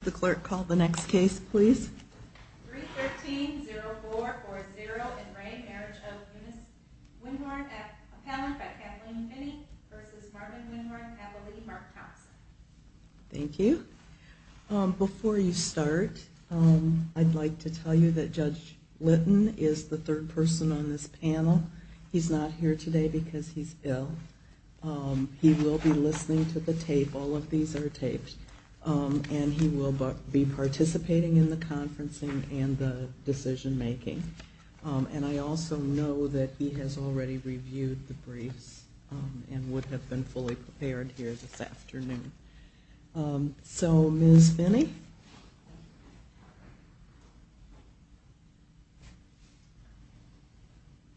The clerk, call the next case, please. Thank you. Before you start, I'd like to tell you that Judge Litton is the third person on this panel. He's not here today because he's ill. He will be listening to the tape. All of these are taped. And he will be participating in the conferencing and the decision making. And I also know that he has already reviewed the briefs and would have been fully prepared here this afternoon. So, Ms. Finney?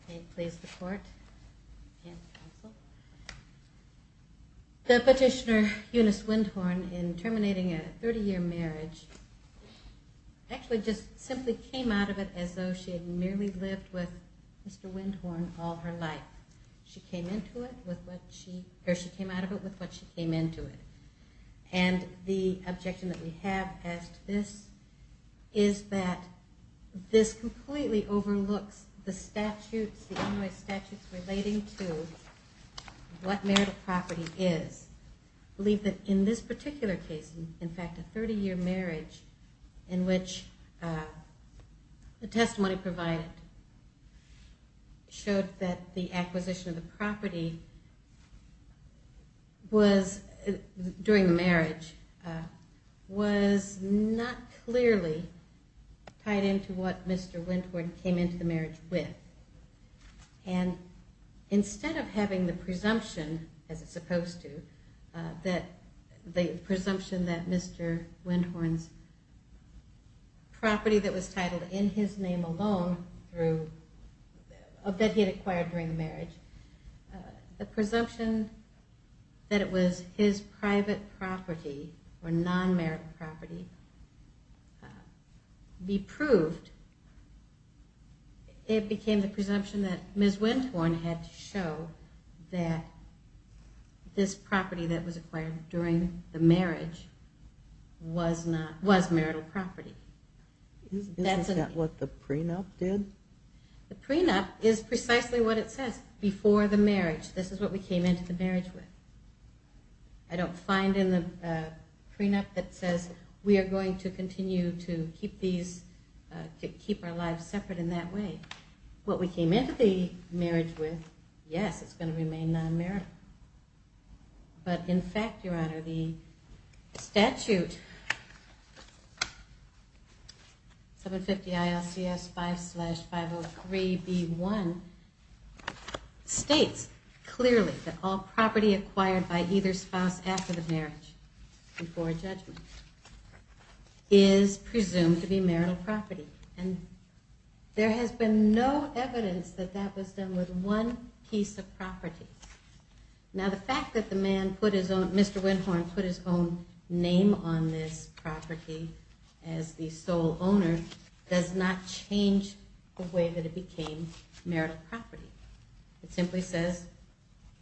May it please the court and counsel. The petitioner, Eunice Windhorn, in terminating a 30-year marriage, actually just simply came out of it as though she had merely lived with Mr. Windhorn all her life. She came out of it with what she came into it. And the objection that we have as to this is that this completely overlooks the statutes relating to what marital property is. I believe that in this particular case, in fact, a 30-year marriage in which the testimony provided showed that the acquisition of the property during the marriage was not clearly tied into what Mr. Windhorn came into the marriage with. And instead of having the presumption, as it's supposed to, that the presumption that Mr. Windhorn's property that was titled in his name alone, that he had acquired during the marriage, the presumption that it was his private property or non-marital property, be proved, it became the presumption that Ms. Windhorn had to show that this property that was acquired during the marriage was marital property. Isn't that what the prenup did? The prenup is precisely what it says, before the marriage. This is what we came into the marriage with. I don't find in the prenup that says we are going to continue to keep our lives separate in that way. What we came into the marriage with, yes, it's going to remain non-marital. But in fact, Your Honor, the statute, 750-ILCS-5-503-B1, states clearly that all property acquired by either spouse after the marriage, before judgment, is presumed to be marital property. And there has been no evidence that that was done with one piece of property. Now the fact that Mr. Windhorn put his own name on this property as the sole owner does not change the way that it became marital property. It simply says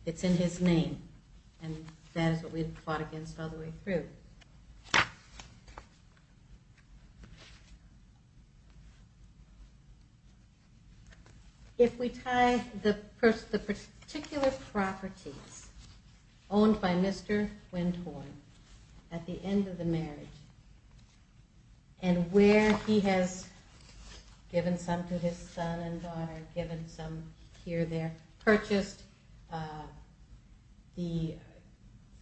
it's in his name, and that is what we have fought against all the way through. If we tie the particular properties owned by Mr. Windhorn at the end of the marriage, and where he has given some to his son and daughter, given some here, there, purchased the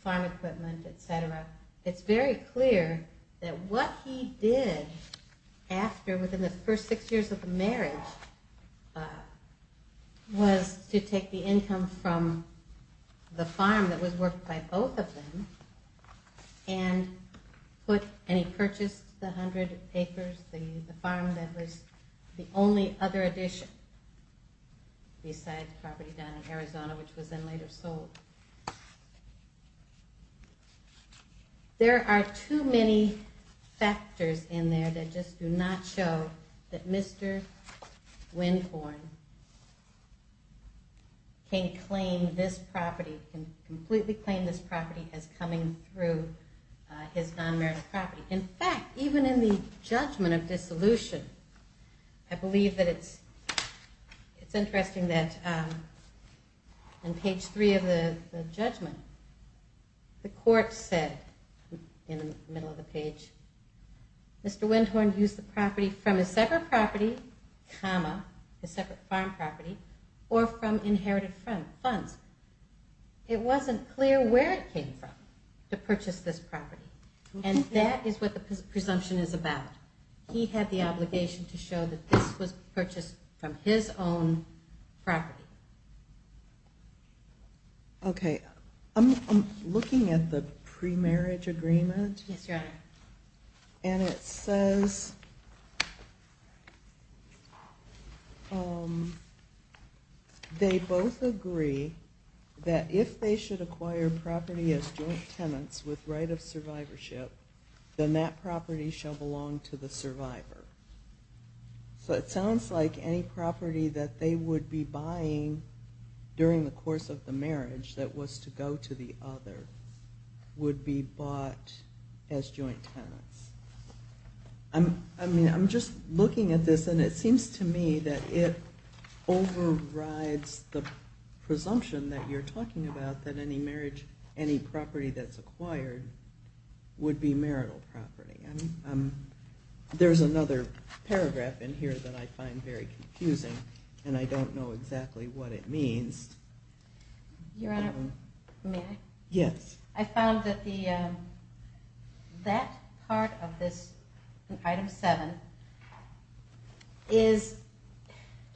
farm equipment, etc. It's very clear that what he did after, within the first six years of the marriage, was to take the income from the farm that was worked by both of them, and he purchased the 100 acres, the farm that was the only other addition besides the property down in Arizona, which was then later sold. There are too many factors in there that just do not show that Mr. Windhorn can completely claim this property as coming through his non-marital property. In fact, even in the judgment of dissolution, I believe that it's interesting that on page three of the judgment, the court said in the middle of the page, Mr. Windhorn used the property from a separate property, comma, a separate farm property, or from inherited funds. It wasn't clear where it came from to purchase this property, and that is what the presumption is about. He had the obligation to show that this was purchased from his own property. I'm looking at the pre-marriage agreement, and it says they both agree that if they should acquire property as joint tenants with right of survivorship, then that property shall belong to the survivor. So it sounds like any property that they would be buying during the course of the marriage that was to go to the other would be bought as joint tenants. I'm just looking at this, and it seems to me that it overrides the presumption that you're talking about, that any property that's acquired would be marital property. There's another paragraph in here that I find very confusing, and I don't know exactly what it means. Your Honor, may I? Yes. I found that that part of this, item seven, is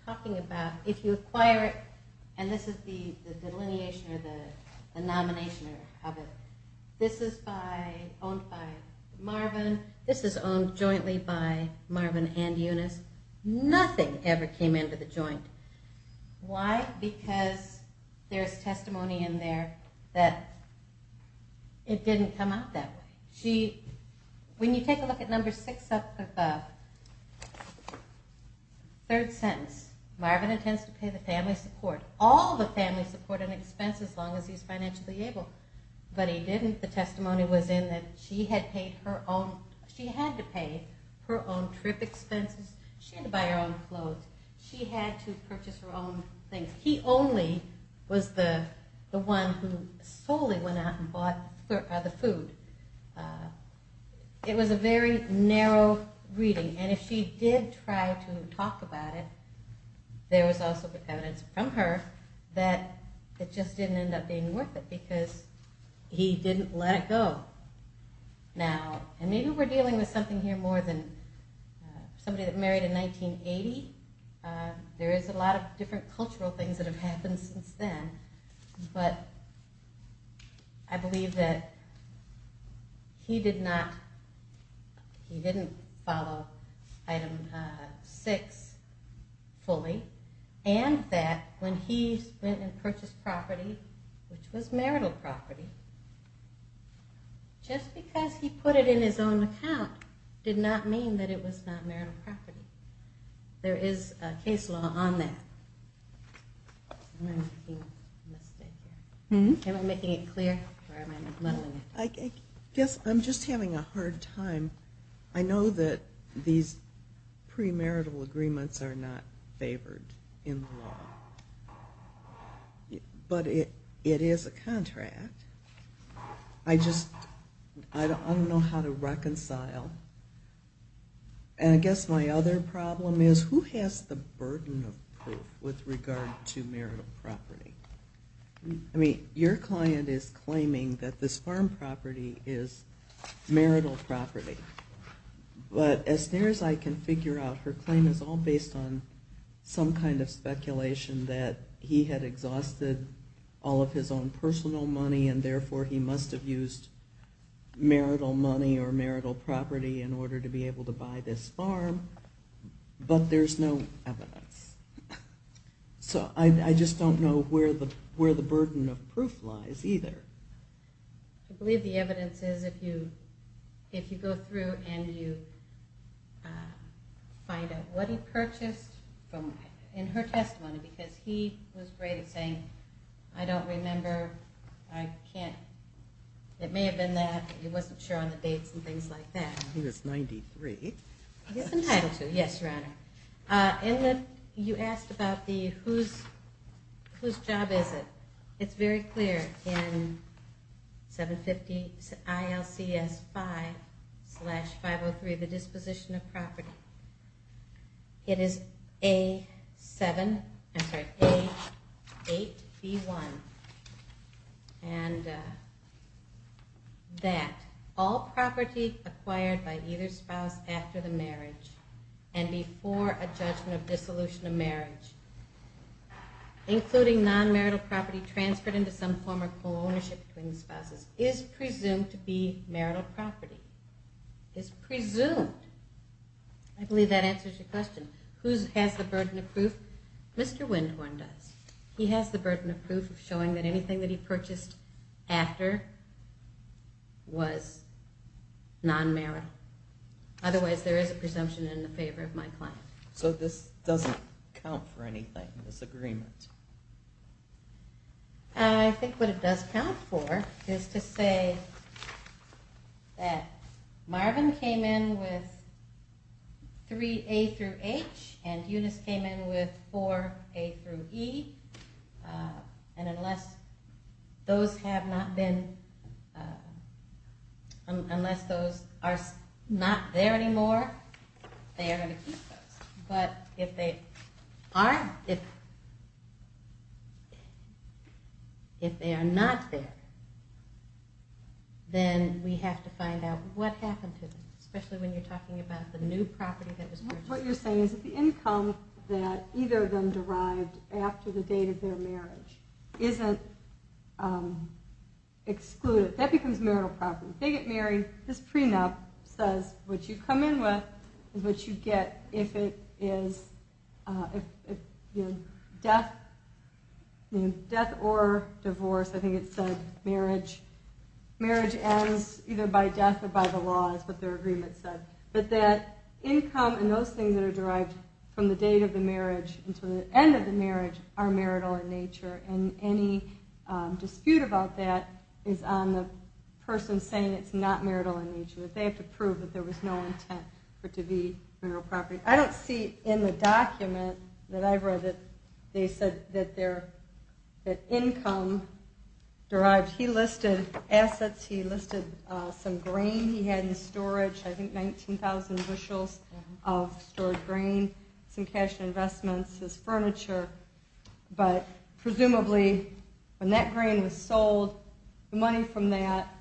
talking about if you acquire it, and this is the delineation or the nomination of it, this is owned by Marvin, this is owned jointly by Marvin and Eunice. Nothing ever came into the joint. Why? Because there's testimony in there that it didn't come out that way. When you take a look at number six of the third sentence, Marvin intends to pay the family support, all the family support and expenses, as long as he's financially able. But he didn't. The testimony was in that she had to pay her own trip expenses, she had to buy her own clothes, she had to purchase her own things. He only was the one who solely went out and bought the food. It was a very narrow reading, and if she did try to talk about it, there was also evidence from her that it just didn't end up being worth it, because he didn't let it go. Now, and maybe we're dealing with something here more than somebody that married in 1980. There is a lot of different cultural things that have happened since then, but I believe that he did not, he didn't follow item six fully, and that when he went and purchased property, which was marital property, just because he put it in his own account did not mean that it was not marital property. There is a case law on that. Am I making a mistake here? Am I making it clear, or am I muddling it? I guess I'm just having a hard time. I know that these premarital agreements are not favored in the law, but it is a contract. I just, I don't know how to reconcile. And I guess my other problem is who has the burden of proof with regard to marital property? I mean, your client is claiming that this farm property is marital property. But as near as I can figure out, her claim is all based on some kind of speculation that he had exhausted all of his own personal money, and therefore he must have used marital money or marital property in order to be able to buy this farm, but there's no evidence. So I just don't know where the burden of proof lies either. I believe the evidence is if you go through and you find out what he purchased in her testimony, because he was great at saying, I don't remember, I can't, it may have been that, he wasn't sure on the dates and things like that. He was 93. Yes, Your Honor. You asked about the whose job is it. It's very clear in 750 ILCS 5 slash 503, the disposition of property. It is A7, I'm sorry, A8B1. And that all property acquired by either spouse after the marriage and before a judgment of dissolution of marriage, including non-marital property transferred into some form of co-ownership between spouses, is presumed to be marital property. Is presumed. I believe that answers your question. Whose has the burden of proof? Mr. Windhorn does. He has the burden of proof of showing that anything that he purchased after was non-marital. Otherwise there is a presumption in the favor of my client. So this doesn't count for anything, this agreement? I think what it does count for is to say that Marvin came in with 3A through H and Eunice came in with 4A through E. And unless those have not been, unless those are not there anymore, they are going to keep those. But if they aren't, if they are not there, then we have to find out what happened to them. Especially when you're talking about the new property that was purchased. What you're saying is that the income that either of them derived after the date of their marriage isn't excluded. That becomes marital property. This prenup says what you come in with is what you get if it is death or divorce. I think it said marriage ends either by death or by the law is what their agreement said. But that income and those things that are derived from the date of the marriage until the end of the marriage are marital in nature. And any dispute about that is on the person saying it's not marital in nature. They have to prove that there was no intent for it to be marital property. I don't see in the document that I've read that they said that income derived. He listed assets. He listed some grain he had in storage. I think 19,000 bushels of stored grain. Some cash and investments, his furniture. But presumably when that grain was sold, the money from that...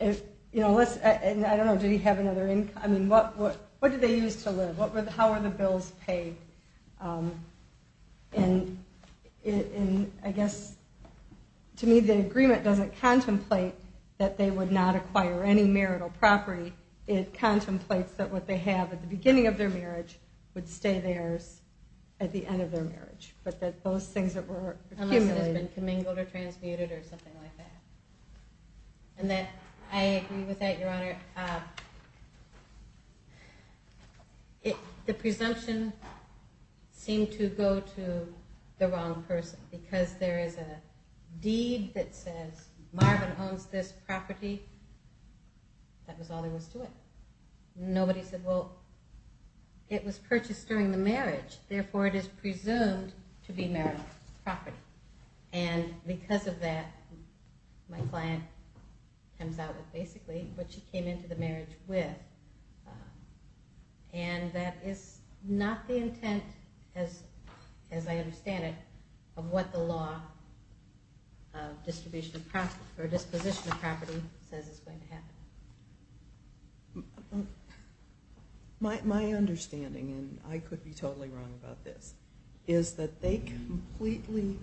I don't know, did he have another income? What did they use to live? How were the bills paid? To me, the agreement doesn't contemplate that they would not acquire any marital property. It contemplates that what they have at the beginning of their marriage would stay theirs at the end of their marriage. But that those things that were accumulated... Unless it has been commingled or transmuted or something like that. And I agree with that, Your Honor. The presumption seemed to go to the wrong person. Because there is a deed that says Marvin owns this property. That was all there was to it. Nobody said, well, it was purchased during the marriage. Therefore, it is presumed to be marital property. And because of that, my client comes out with basically what she came into the marriage with. And that is not the intent, as I understand it, of what the law of disposition of property says is going to happen. My understanding, and I could be totally wrong about this, is that they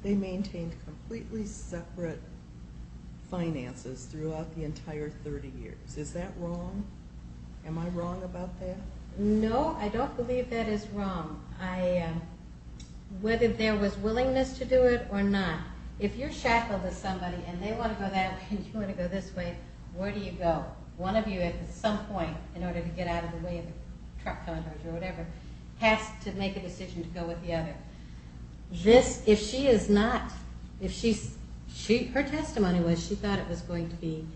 maintained completely separate finances throughout the entire 30 years. Is that wrong? Am I wrong about that? No, I don't believe that is wrong. Whether there was willingness to do it or not. If you're shackled with somebody and they want to go that way and you want to go this way, where do you go? One of you at some point, in order to get out of the way of the truck coming towards you or whatever, has to make a decision to go with the other. If she is not, if her testimony was she thought it was going to be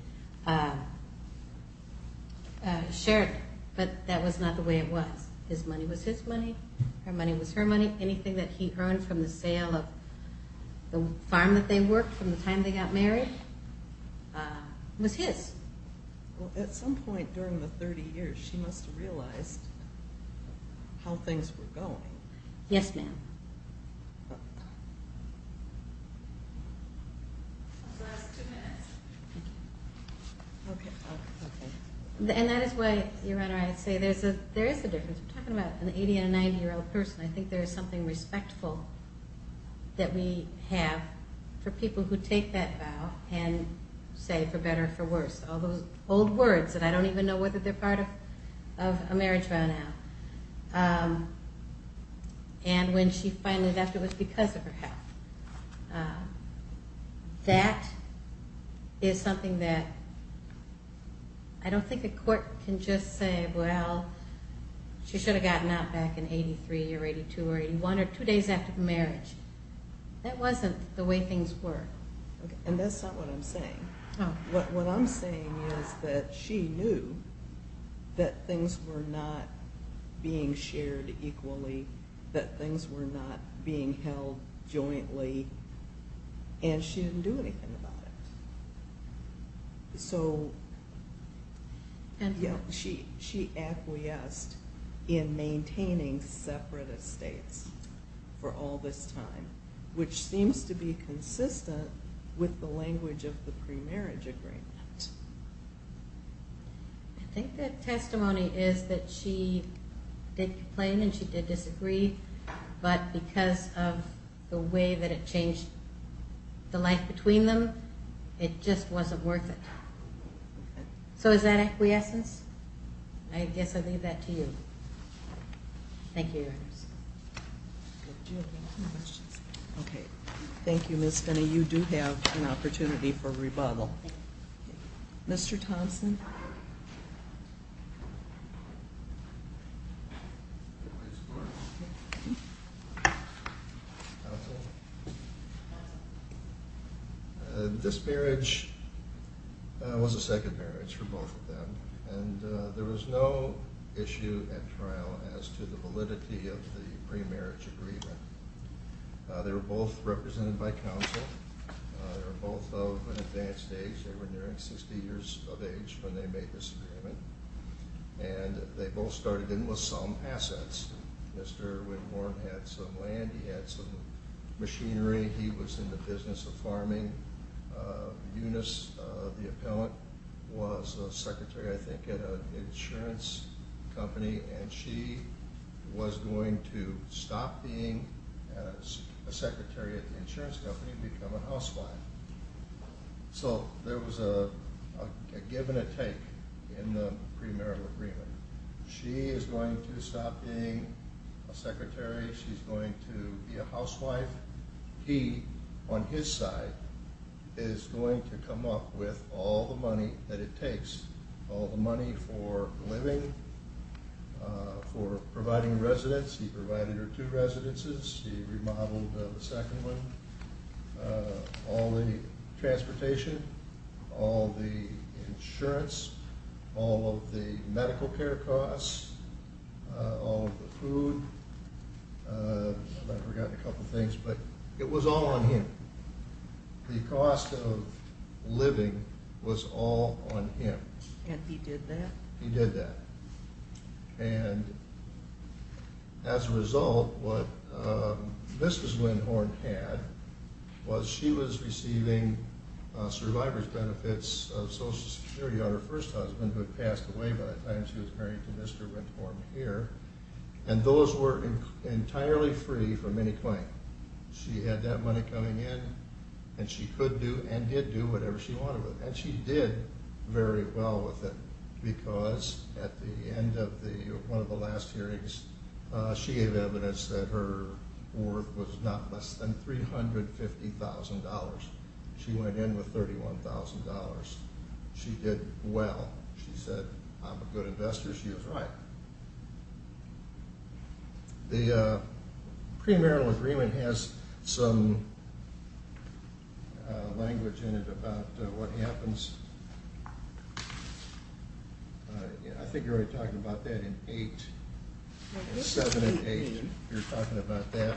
shared, but that was not the way it was. His money was his money, her money was her money. Anything that he earned from the sale of the farm that they worked from the time they got married was his. Well, at some point during the 30 years, she must have realized how things were going. Yes, ma'am. And that is why, Your Honor, I say there is a difference. We're talking about an 80- and a 90-year-old person. I think there is something respectful that we have for people who take that vow and say for better or for worse. All those old words, and I don't even know whether they're part of a marriage vow now. And when she finally left, it was because of her health. That is something that I don't think a court can just say, well, she should have gotten out back in 83 or 82 or 81 or two days after the marriage. That wasn't the way things were. And that's not what I'm saying. What I'm saying is that she knew that things were not being shared equally, that things were not being held jointly, and she didn't do anything about it. She acquiesced in maintaining separate estates for all this time, which seems to be consistent with the language of the pre-marriage agreement. I think the testimony is that she did complain and she did disagree, but because of the way that it changed the life between them, it just wasn't worth it. So is that acquiescence? I guess I leave that to you. Thank you, Your Honor. Okay, thank you, Ms. Finney. You do have an opportunity for rebuttal. Mr. Thompson? This marriage was a second marriage for both of them, and there was no issue at trial as to the validity of the pre-marriage agreement. They were both represented by counsel. They were both of an advanced age. They were nearing 60 years of age when they made this agreement. And they both started in with some assets. Mr. Whitmore had some land. He had some machinery. He was in the business of farming. Eunice, the appellant, was a secretary, I think, at an insurance company, and she was going to stop being a secretary at the insurance company and become a housewife. So there was a give and a take in the pre-marital agreement. She is going to stop being a secretary. She's going to be a housewife. He, on his side, is going to come up with all the money that it takes, all the money for living, for providing residence. He provided her two residences. He remodeled the second one, all the transportation, all the insurance, all of the medical care costs, all of the food. I've forgotten a couple of things, but it was all on him. The cost of living was all on him. And he did that? He did that. And as a result, what Mrs. Windhorn had was she was receiving survivor's benefits of Social Security on her first husband who had passed away by the time she was married to Mr. Windhorn here, and those were entirely free from any claim. She had that money coming in, and she could do and did do whatever she wanted with it. And she did very well with it because at the end of one of the last hearings, she gave evidence that her worth was not less than $350,000. She went in with $31,000. She did well. She said, I'm a good investor. She was right. The premarital agreement has some language in it about what happens. I think you're already talking about that in 8, 7 and 8. You're talking about that.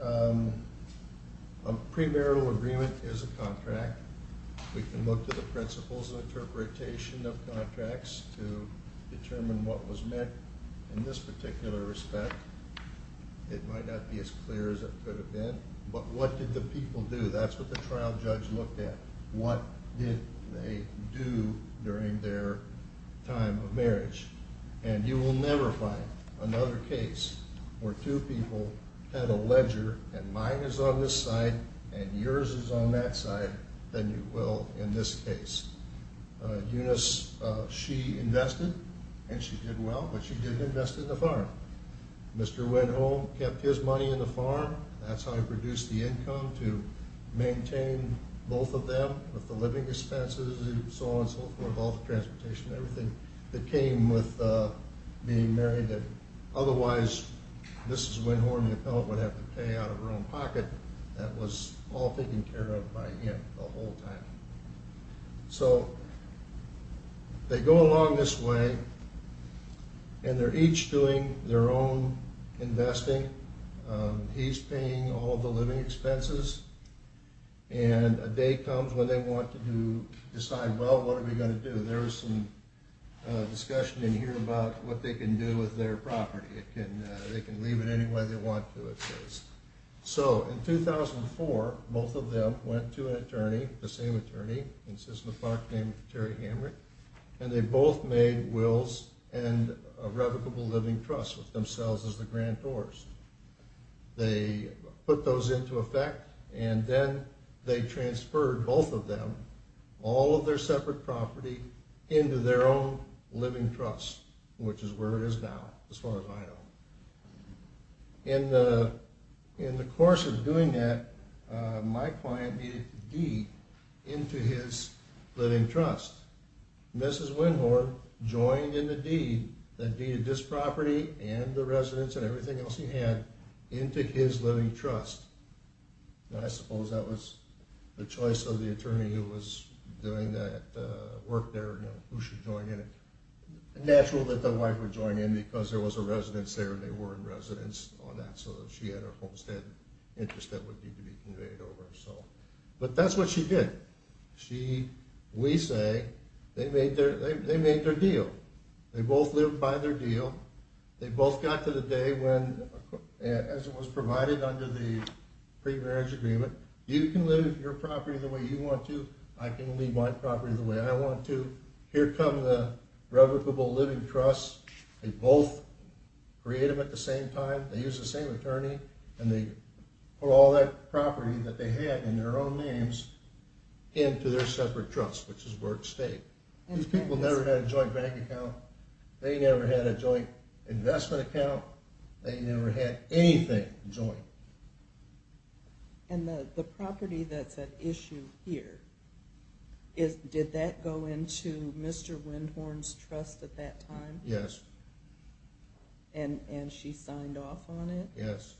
A premarital agreement is a contract. We can look to the principles of interpretation of contracts to determine what was met. In this particular respect, it might not be as clear as it could have been, but what did the people do? That's what the trial judge looked at. What did they do during their time of marriage? And you will never find another case where two people had a ledger, and mine is on this side and yours is on that side, than you will in this case. Eunice, she invested, and she did well, but she didn't invest in the farm. Mr. Winhorn kept his money in the farm. That's how he produced the income to maintain both of them with the living expenses and so on and so forth, all the transportation, everything that came with being married. Otherwise, Mrs. Winhorn, the appellant, would have to pay out of her own pocket. That was all taken care of by him the whole time. So they go along this way, and they're each doing their own investing. He's paying all of the living expenses, and a day comes when they want to decide, well, what are we going to do? There's some discussion in here about what they can do with their property. They can leave it any way they want to, it says. So in 2004, both of them went to an attorney, the same attorney in Cisma Park named Terry Hamrick, and they both made wills and a revocable living trust with themselves as the grantors. They put those into effect, and then they transferred both of them, all of their separate property, into their own living trust, which is where it is now, as far as I know. In the course of doing that, my client needed to deed into his living trust. Mrs. Windhorn joined in the deed, the deed of this property and the residence and everything else he had, into his living trust. I suppose that was the choice of the attorney who was doing that work there, who should join in. Natural that the wife would join in because there was a residence there, and they were in residence on that, so she had a homestead interest that would need to be conveyed over. But that's what she did. We say they made their deal. They both lived by their deal. They both got to the day when, as it was provided under the pre-marriage agreement, you can live your property the way you want to, I can live my property the way I want to. Here come the revocable living trusts. They both created them at the same time. They used the same attorney, and they put all that property that they had in their own names into their separate trust, which is Workstate. These people never had a joint bank account. They never had a joint investment account. They never had anything joint. And the property that's at issue here, did that go into Mr. Windhorn's trust at that time? Yes. And she signed off on it? Yes.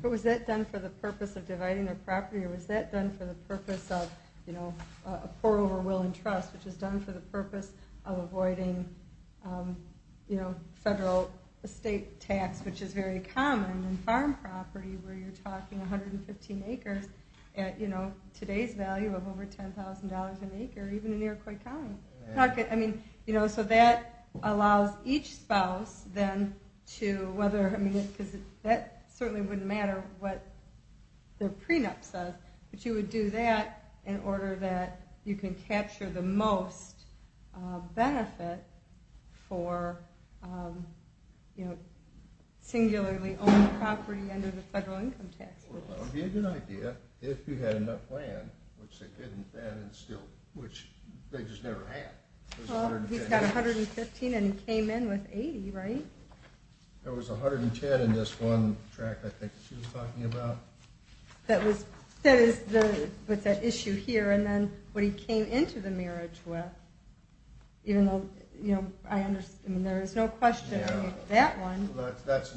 But was that done for the purpose of dividing their property, or was that done for the purpose of a poor over-willing trust, which is done for the purpose of avoiding federal estate tax, which is very common in farm property where you're talking 115 acres at today's value of over $10,000 an acre, even in Iroquois County. So that allows each spouse then to whether, because that certainly wouldn't matter what their prenup says, but you would do that in order that you can capture the most benefit for singularly-owned property under the federal income tax. Well, if you had an idea, if you had enough land, which they didn't then and still, which they just never had. Well, he's got 115, and he came in with 80, right? There was 110 in this one tract I think that she was talking about. That is with that issue here, and then what he came into the marriage with, even though I understand there is no question on that one. Those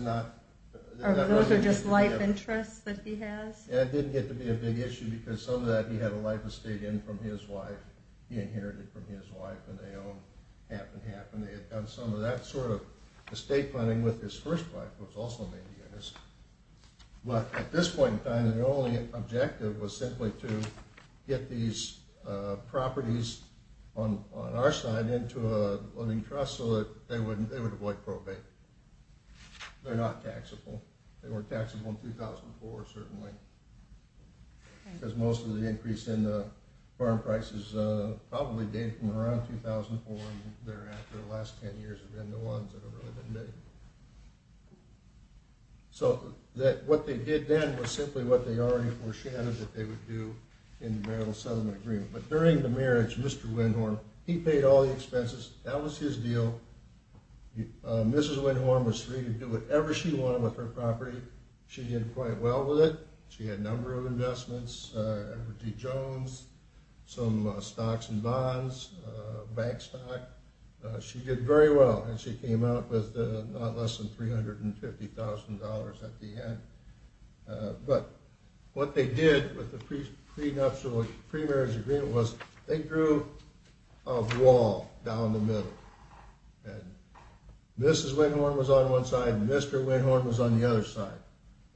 are just life interests that he has? And it didn't get to be a big issue because some of that, he had a life estate in from his wife. He inherited from his wife, and they owned half and half, and they had done some of that sort of estate planning with his first wife, who was also an Indianist. But at this point in time, the only objective was simply to get these properties on our side into a living trust so that they would avoid probate. They're not taxable. They weren't taxable in 2004, certainly, because most of the increase in the farm prices probably date from around 2004, and thereafter the last 10 years have been the ones that have really been big. So what they did then was simply what they already foreshadowed that they would do in the marital settlement agreement. But during the marriage, Mr. Windhorn, he paid all the expenses. That was his deal. Mrs. Windhorn was free to do whatever she wanted with her property. She did quite well with it. She had a number of investments, Everett D. Jones, some stocks and bonds, bank stock. She did very well, and she came out with not less than $350,000 at the end. But what they did with the pre-marriage agreement was they drew a wall down the Mrs. Windhorn was on one side and Mr. Windhorn was on the other side.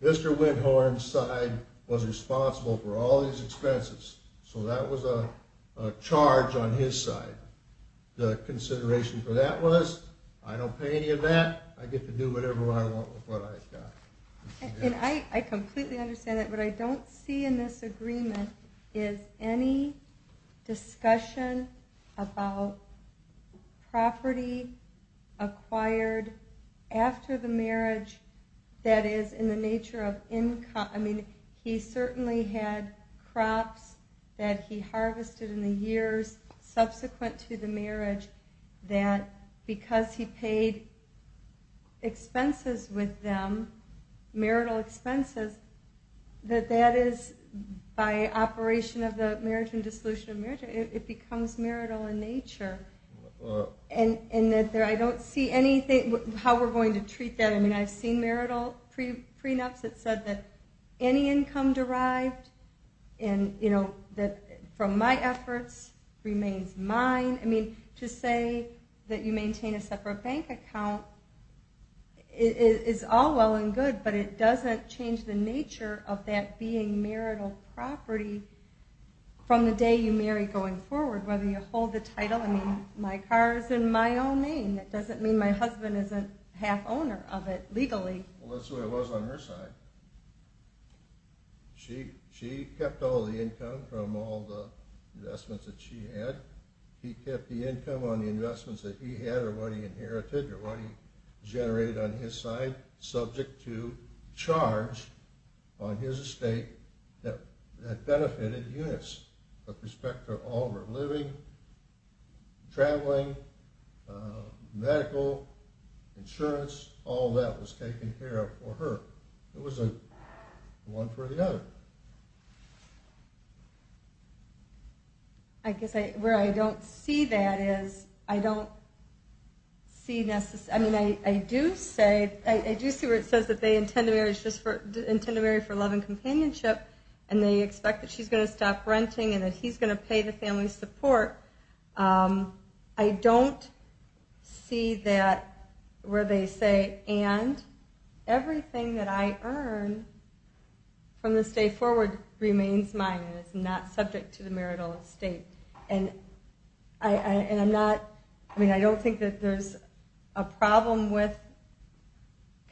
Mr. Windhorn's side was responsible for all these expenses, so that was a charge on his side. The consideration for that was I don't pay any of that. I get to do whatever I want with what I've got. And I completely understand that. What I don't see in this agreement is any discussion about property acquired after the marriage that is in the nature of income. He certainly had crops that he harvested in the years subsequent to the marriage that because he paid expenses with them, marital expenses, that that is by operation of the marriage and dissolution of marriage, it becomes marital in nature. And I don't see how we're going to treat that. I mean, I've seen marital prenups that said that any income derived from my efforts remains mine. I mean, to say that you maintain a separate bank account is all well and good, but it doesn't change the nature of that being marital property from the day you marry going forward, whether you hold the title. I mean, my car is in my own name. That doesn't mean my husband isn't half owner of it legally. Well, that's the way it was on her side. She kept all the income from all the investments that she had. He kept the income on the investments that he had or what he inherited generated on his side subject to charge on his estate that benefited units with respect to all of her living, traveling, medical, insurance, all that was taken care of for her. It wasn't one for the other. I guess where I don't see that is I don't see necessarily ñ I mean, I do see where it says that they intend to marry for love and companionship and they expect that she's going to stop renting and that he's going to pay the family support. I don't see that where they say, and everything that I earn from this day forward remains mine and is not subject to the marital estate. And I'm not ñ I mean, I don't think that there's a problem with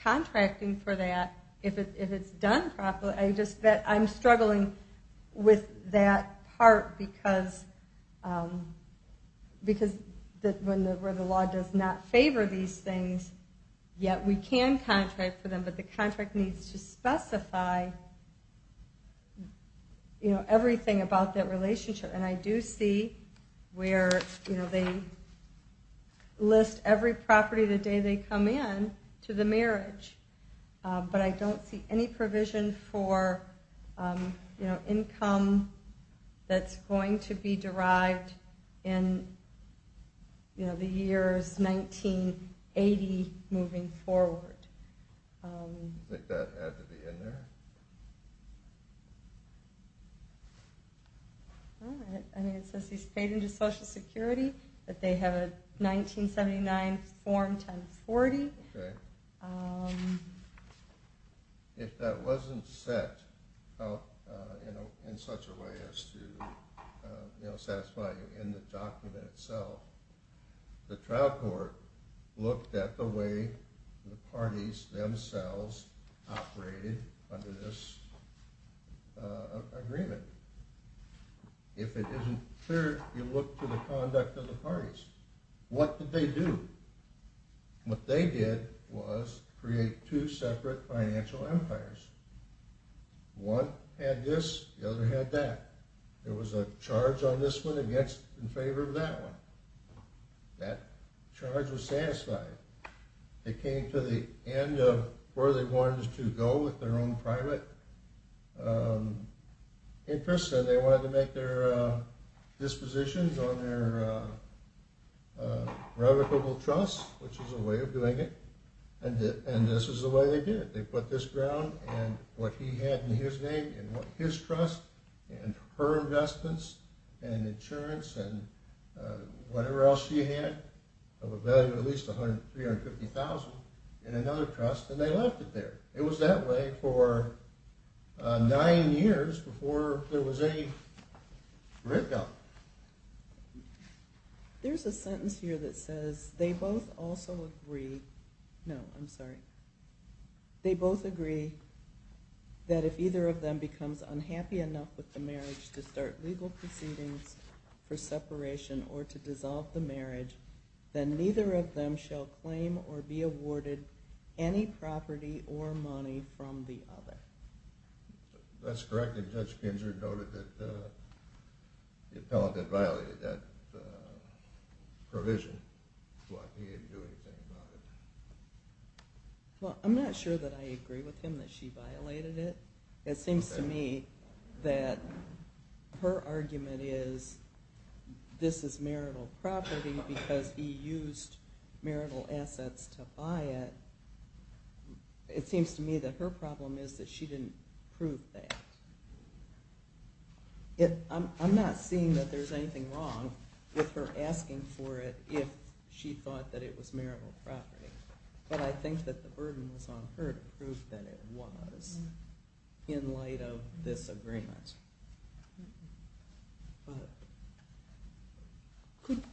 contracting for that if it's done properly. I'm struggling with that part because when the law does not favor these things, yet we can contract for them, but the contract needs to specify everything about that relationship. And I do see where they list every property the day they come in to the marriage, but I don't see any provision for income that's going to be derived in the years 1980 moving forward. Do you think that had to be in there? I mean, it says he's paid into Social Security, that they have a 1979 form 1040. Okay. If that wasn't set in such a way as to satisfy you in the document itself, the trial court looked at the way the parties themselves operated under this agreement. If it isn't clear, you look to the conduct of the parties. What did they do? What they did was create two separate financial empires. One had this, the other had that. There was a charge on this one against in favor of that one. That charge was satisfied. It came to the end of where they wanted to go with their own private interests, and they wanted to make their dispositions on their revocable trust, which is a way of doing it, and this is the way they did it. They put this ground and what he had in his name and what his trust and her investments and insurance and whatever else she had of a value of at least $350,000 in another trust, and they left it there. It was that way for nine years before there was any breakup. There's a sentence here that says, they both also agree that if either of them becomes unhappy enough with the marriage to start legal proceedings for separation or to dissolve the marriage, then neither of them shall claim or be awarded any property or money from the other. That's correct, and Judge Ginsburg noted that the appellate had violated that provision, but he didn't do anything about it. Well, I'm not sure that I agree with him that she violated it. It seems to me that her argument is this is marital property because he used marital assets to buy it. It seems to me that her problem is that she didn't prove that. I'm not seeing that there's anything wrong with her asking for it if she thought that it was marital property, but I think that the burden was on her to prove that it was in light of this agreement.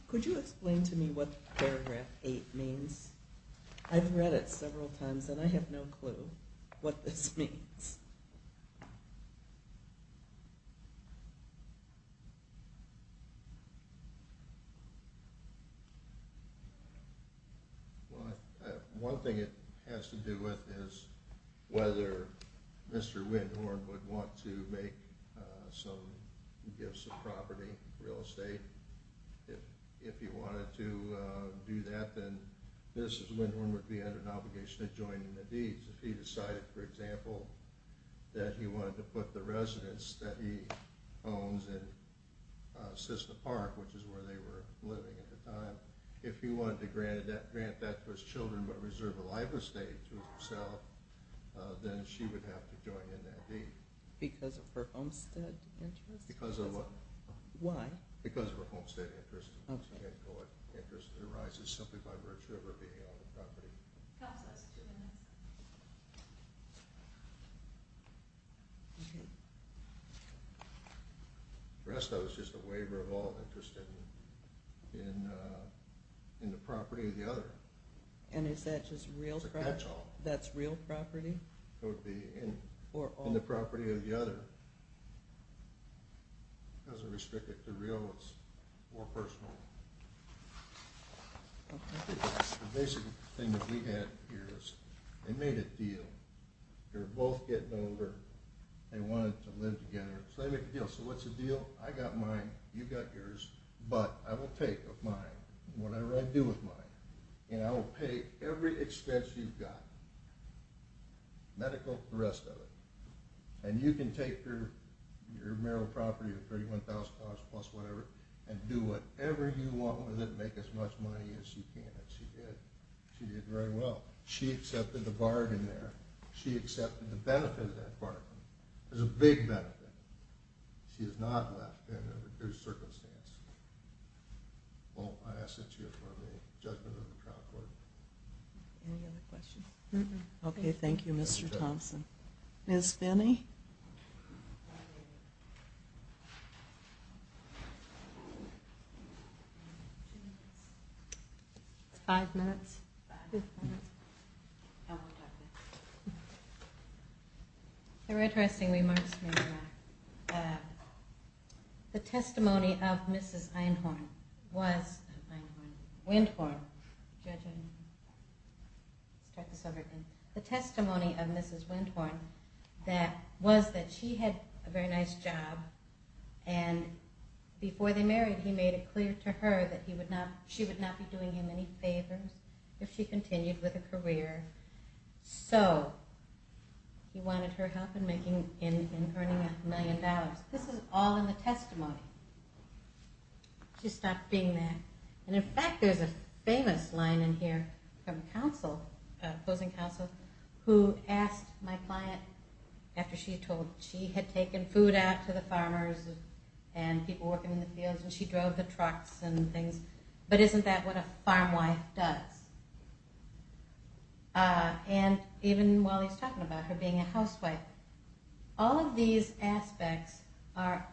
Could you explain to me what paragraph 8 means? I've read it several times, and I have no clue what this means. Well, one thing it has to do with is whether Mr. Windhorn would want to give some property, real estate. If he wanted to do that, then Mr. Windhorn would be under an obligation to join in the deeds. If he decided, for example, that he wanted to put the residence that he owns in Cisna Park, which is where they were living at the time, if he wanted to grant that to his children but reserve a live estate to himself, then she would have to join in that deed. Because of her Olmstead interest? Because of what? Why? Because of her Olmstead interest. It arises simply by virtue of her being on the property. Counsel, that's two minutes. Restow is just a waiver of all interest in the property of the other. And is that just real property? It's a catch-all. That's real property? It would be in the property of the other. It doesn't restrict it to real, it's more personal. The basic thing that we had here is they made a deal. They were both getting older. They wanted to live together, so they made a deal. So what's the deal? I got mine, you got yours, but I will take of mine whatever I do with mine, and I will pay every expense you've got, medical, the rest of it. And you can take your marital property of $31,000 plus whatever and do whatever you want with it and make as much money as you can. And she did. She did very well. She accepted the bargain there. She accepted the benefit of that bargain. It was a big benefit. She is not left in a reduced circumstance. Well, I ask that you affirm the judgment of the trial court. Any other questions? Okay, thank you, Mr. Thompson. Ms. Finney? It's five minutes. Five minutes? I won't talk then. The red dressing remarks me back. The testimony of Mrs. Einhorn was, not Einhorn, Windhorn. Judge Einhorn. Start this over again. The testimony of Mrs. Windhorn was that she had a very nice job, and before they married, he made it clear to her that she would not be doing him any favors if she continued with her career. So he wanted her help in earning a million dollars. This is all in the testimony. She stopped being there. And, in fact, there's a famous line in here from opposing counsel who asked my client, after she told she had taken food out to the farmers and people working in the fields, and she drove the trucks and things, but isn't that what a farm wife does? And even while he's talking about her being a housewife, all of these aspects are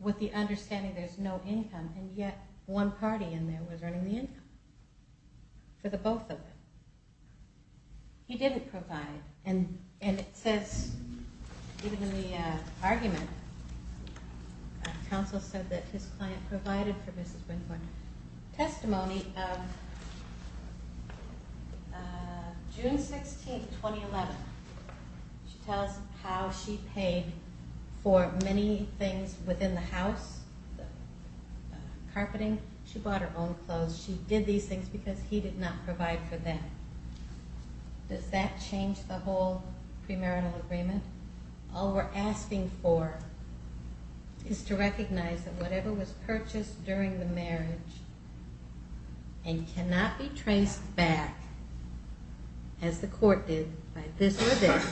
with the understanding there's no income, and yet one party in there was earning the income for the both of them. He didn't provide. And it says, even in the argument, counsel said that his client provided for Mrs. Windhorn. Testimony of June 16, 2011. She tells how she paid for many things within the house, carpeting. She bought her own clothes. She did these things because he did not provide for them. Does that change the whole premarital agreement? All we're asking for is to recognize that whatever was purchased during the marriage and cannot be traced back, as the court did by this or this,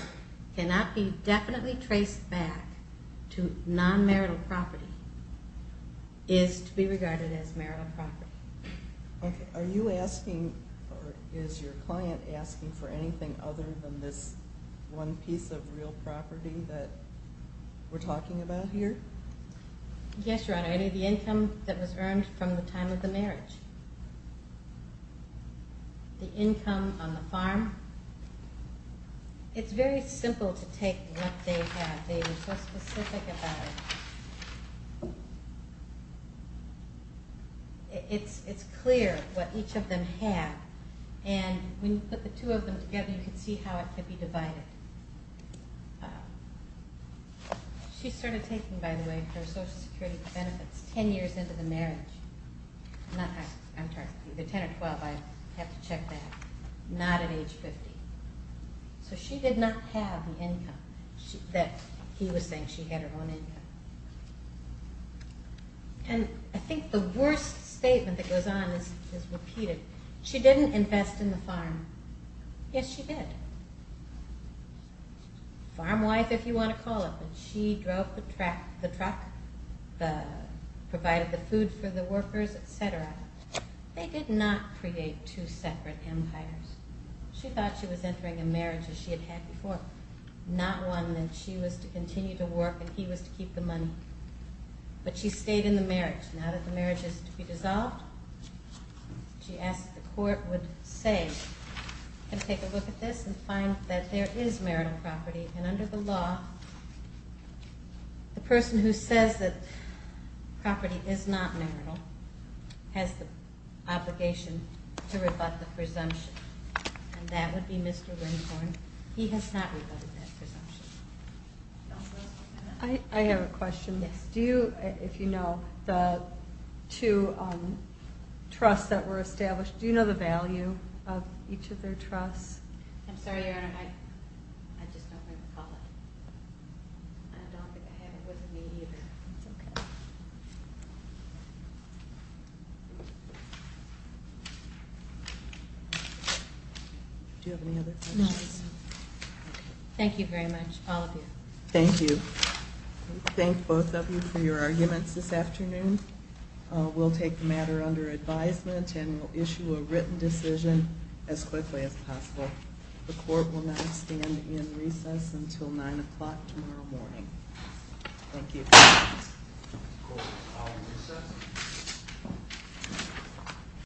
cannot be definitely traced back to non-marital property, is to be regarded as marital property. Okay. Are you asking, or is your client asking, for anything other than this one piece of real property that we're talking about here? Yes, Your Honor. The income that was earned from the time of the marriage. The income on the farm. It's very simple to take what they had. They were so specific about it. It's clear what each of them had. And when you put the two of them together, you can see how it could be divided. She started taking, by the way, her Social Security benefits 10 years into the marriage. I'm sorry, either 10 or 12. I have to check that. Not at age 50. So she did not have the income that he was saying she had her own income. And I think the worst statement that goes on is repeated. She didn't invest in the farm. Yes, she did. Farm wife, if you want to call it, but she drove the truck, provided the food for the workers, et cetera. They did not create two separate empires. She thought she was entering a marriage as she had had before. Not one that she was to continue to work and he was to keep the money. But she stayed in the marriage. Now that the marriage is to be dissolved, she asked that the court would say, and take a look at this and find that there is marital property. And under the law, the person who says that property is not marital has the obligation to rebut the presumption. And that would be Mr. Lindhorn. He has not rebutted that presumption. I have a question. Yes. Do you, if you know, the two trusts that were established, do you know the value of each of their trusts? I'm sorry, Your Honor, I just don't recall it. I don't think I have it with me either. That's okay. Do you have any other questions? No. Thank you very much, all of you. Thank you. Thank both of you for your arguments this afternoon. We'll take the matter under advisement and we'll issue a written decision as quickly as possible. The court will now stand in recess until 9 o'clock tomorrow morning. Thank you.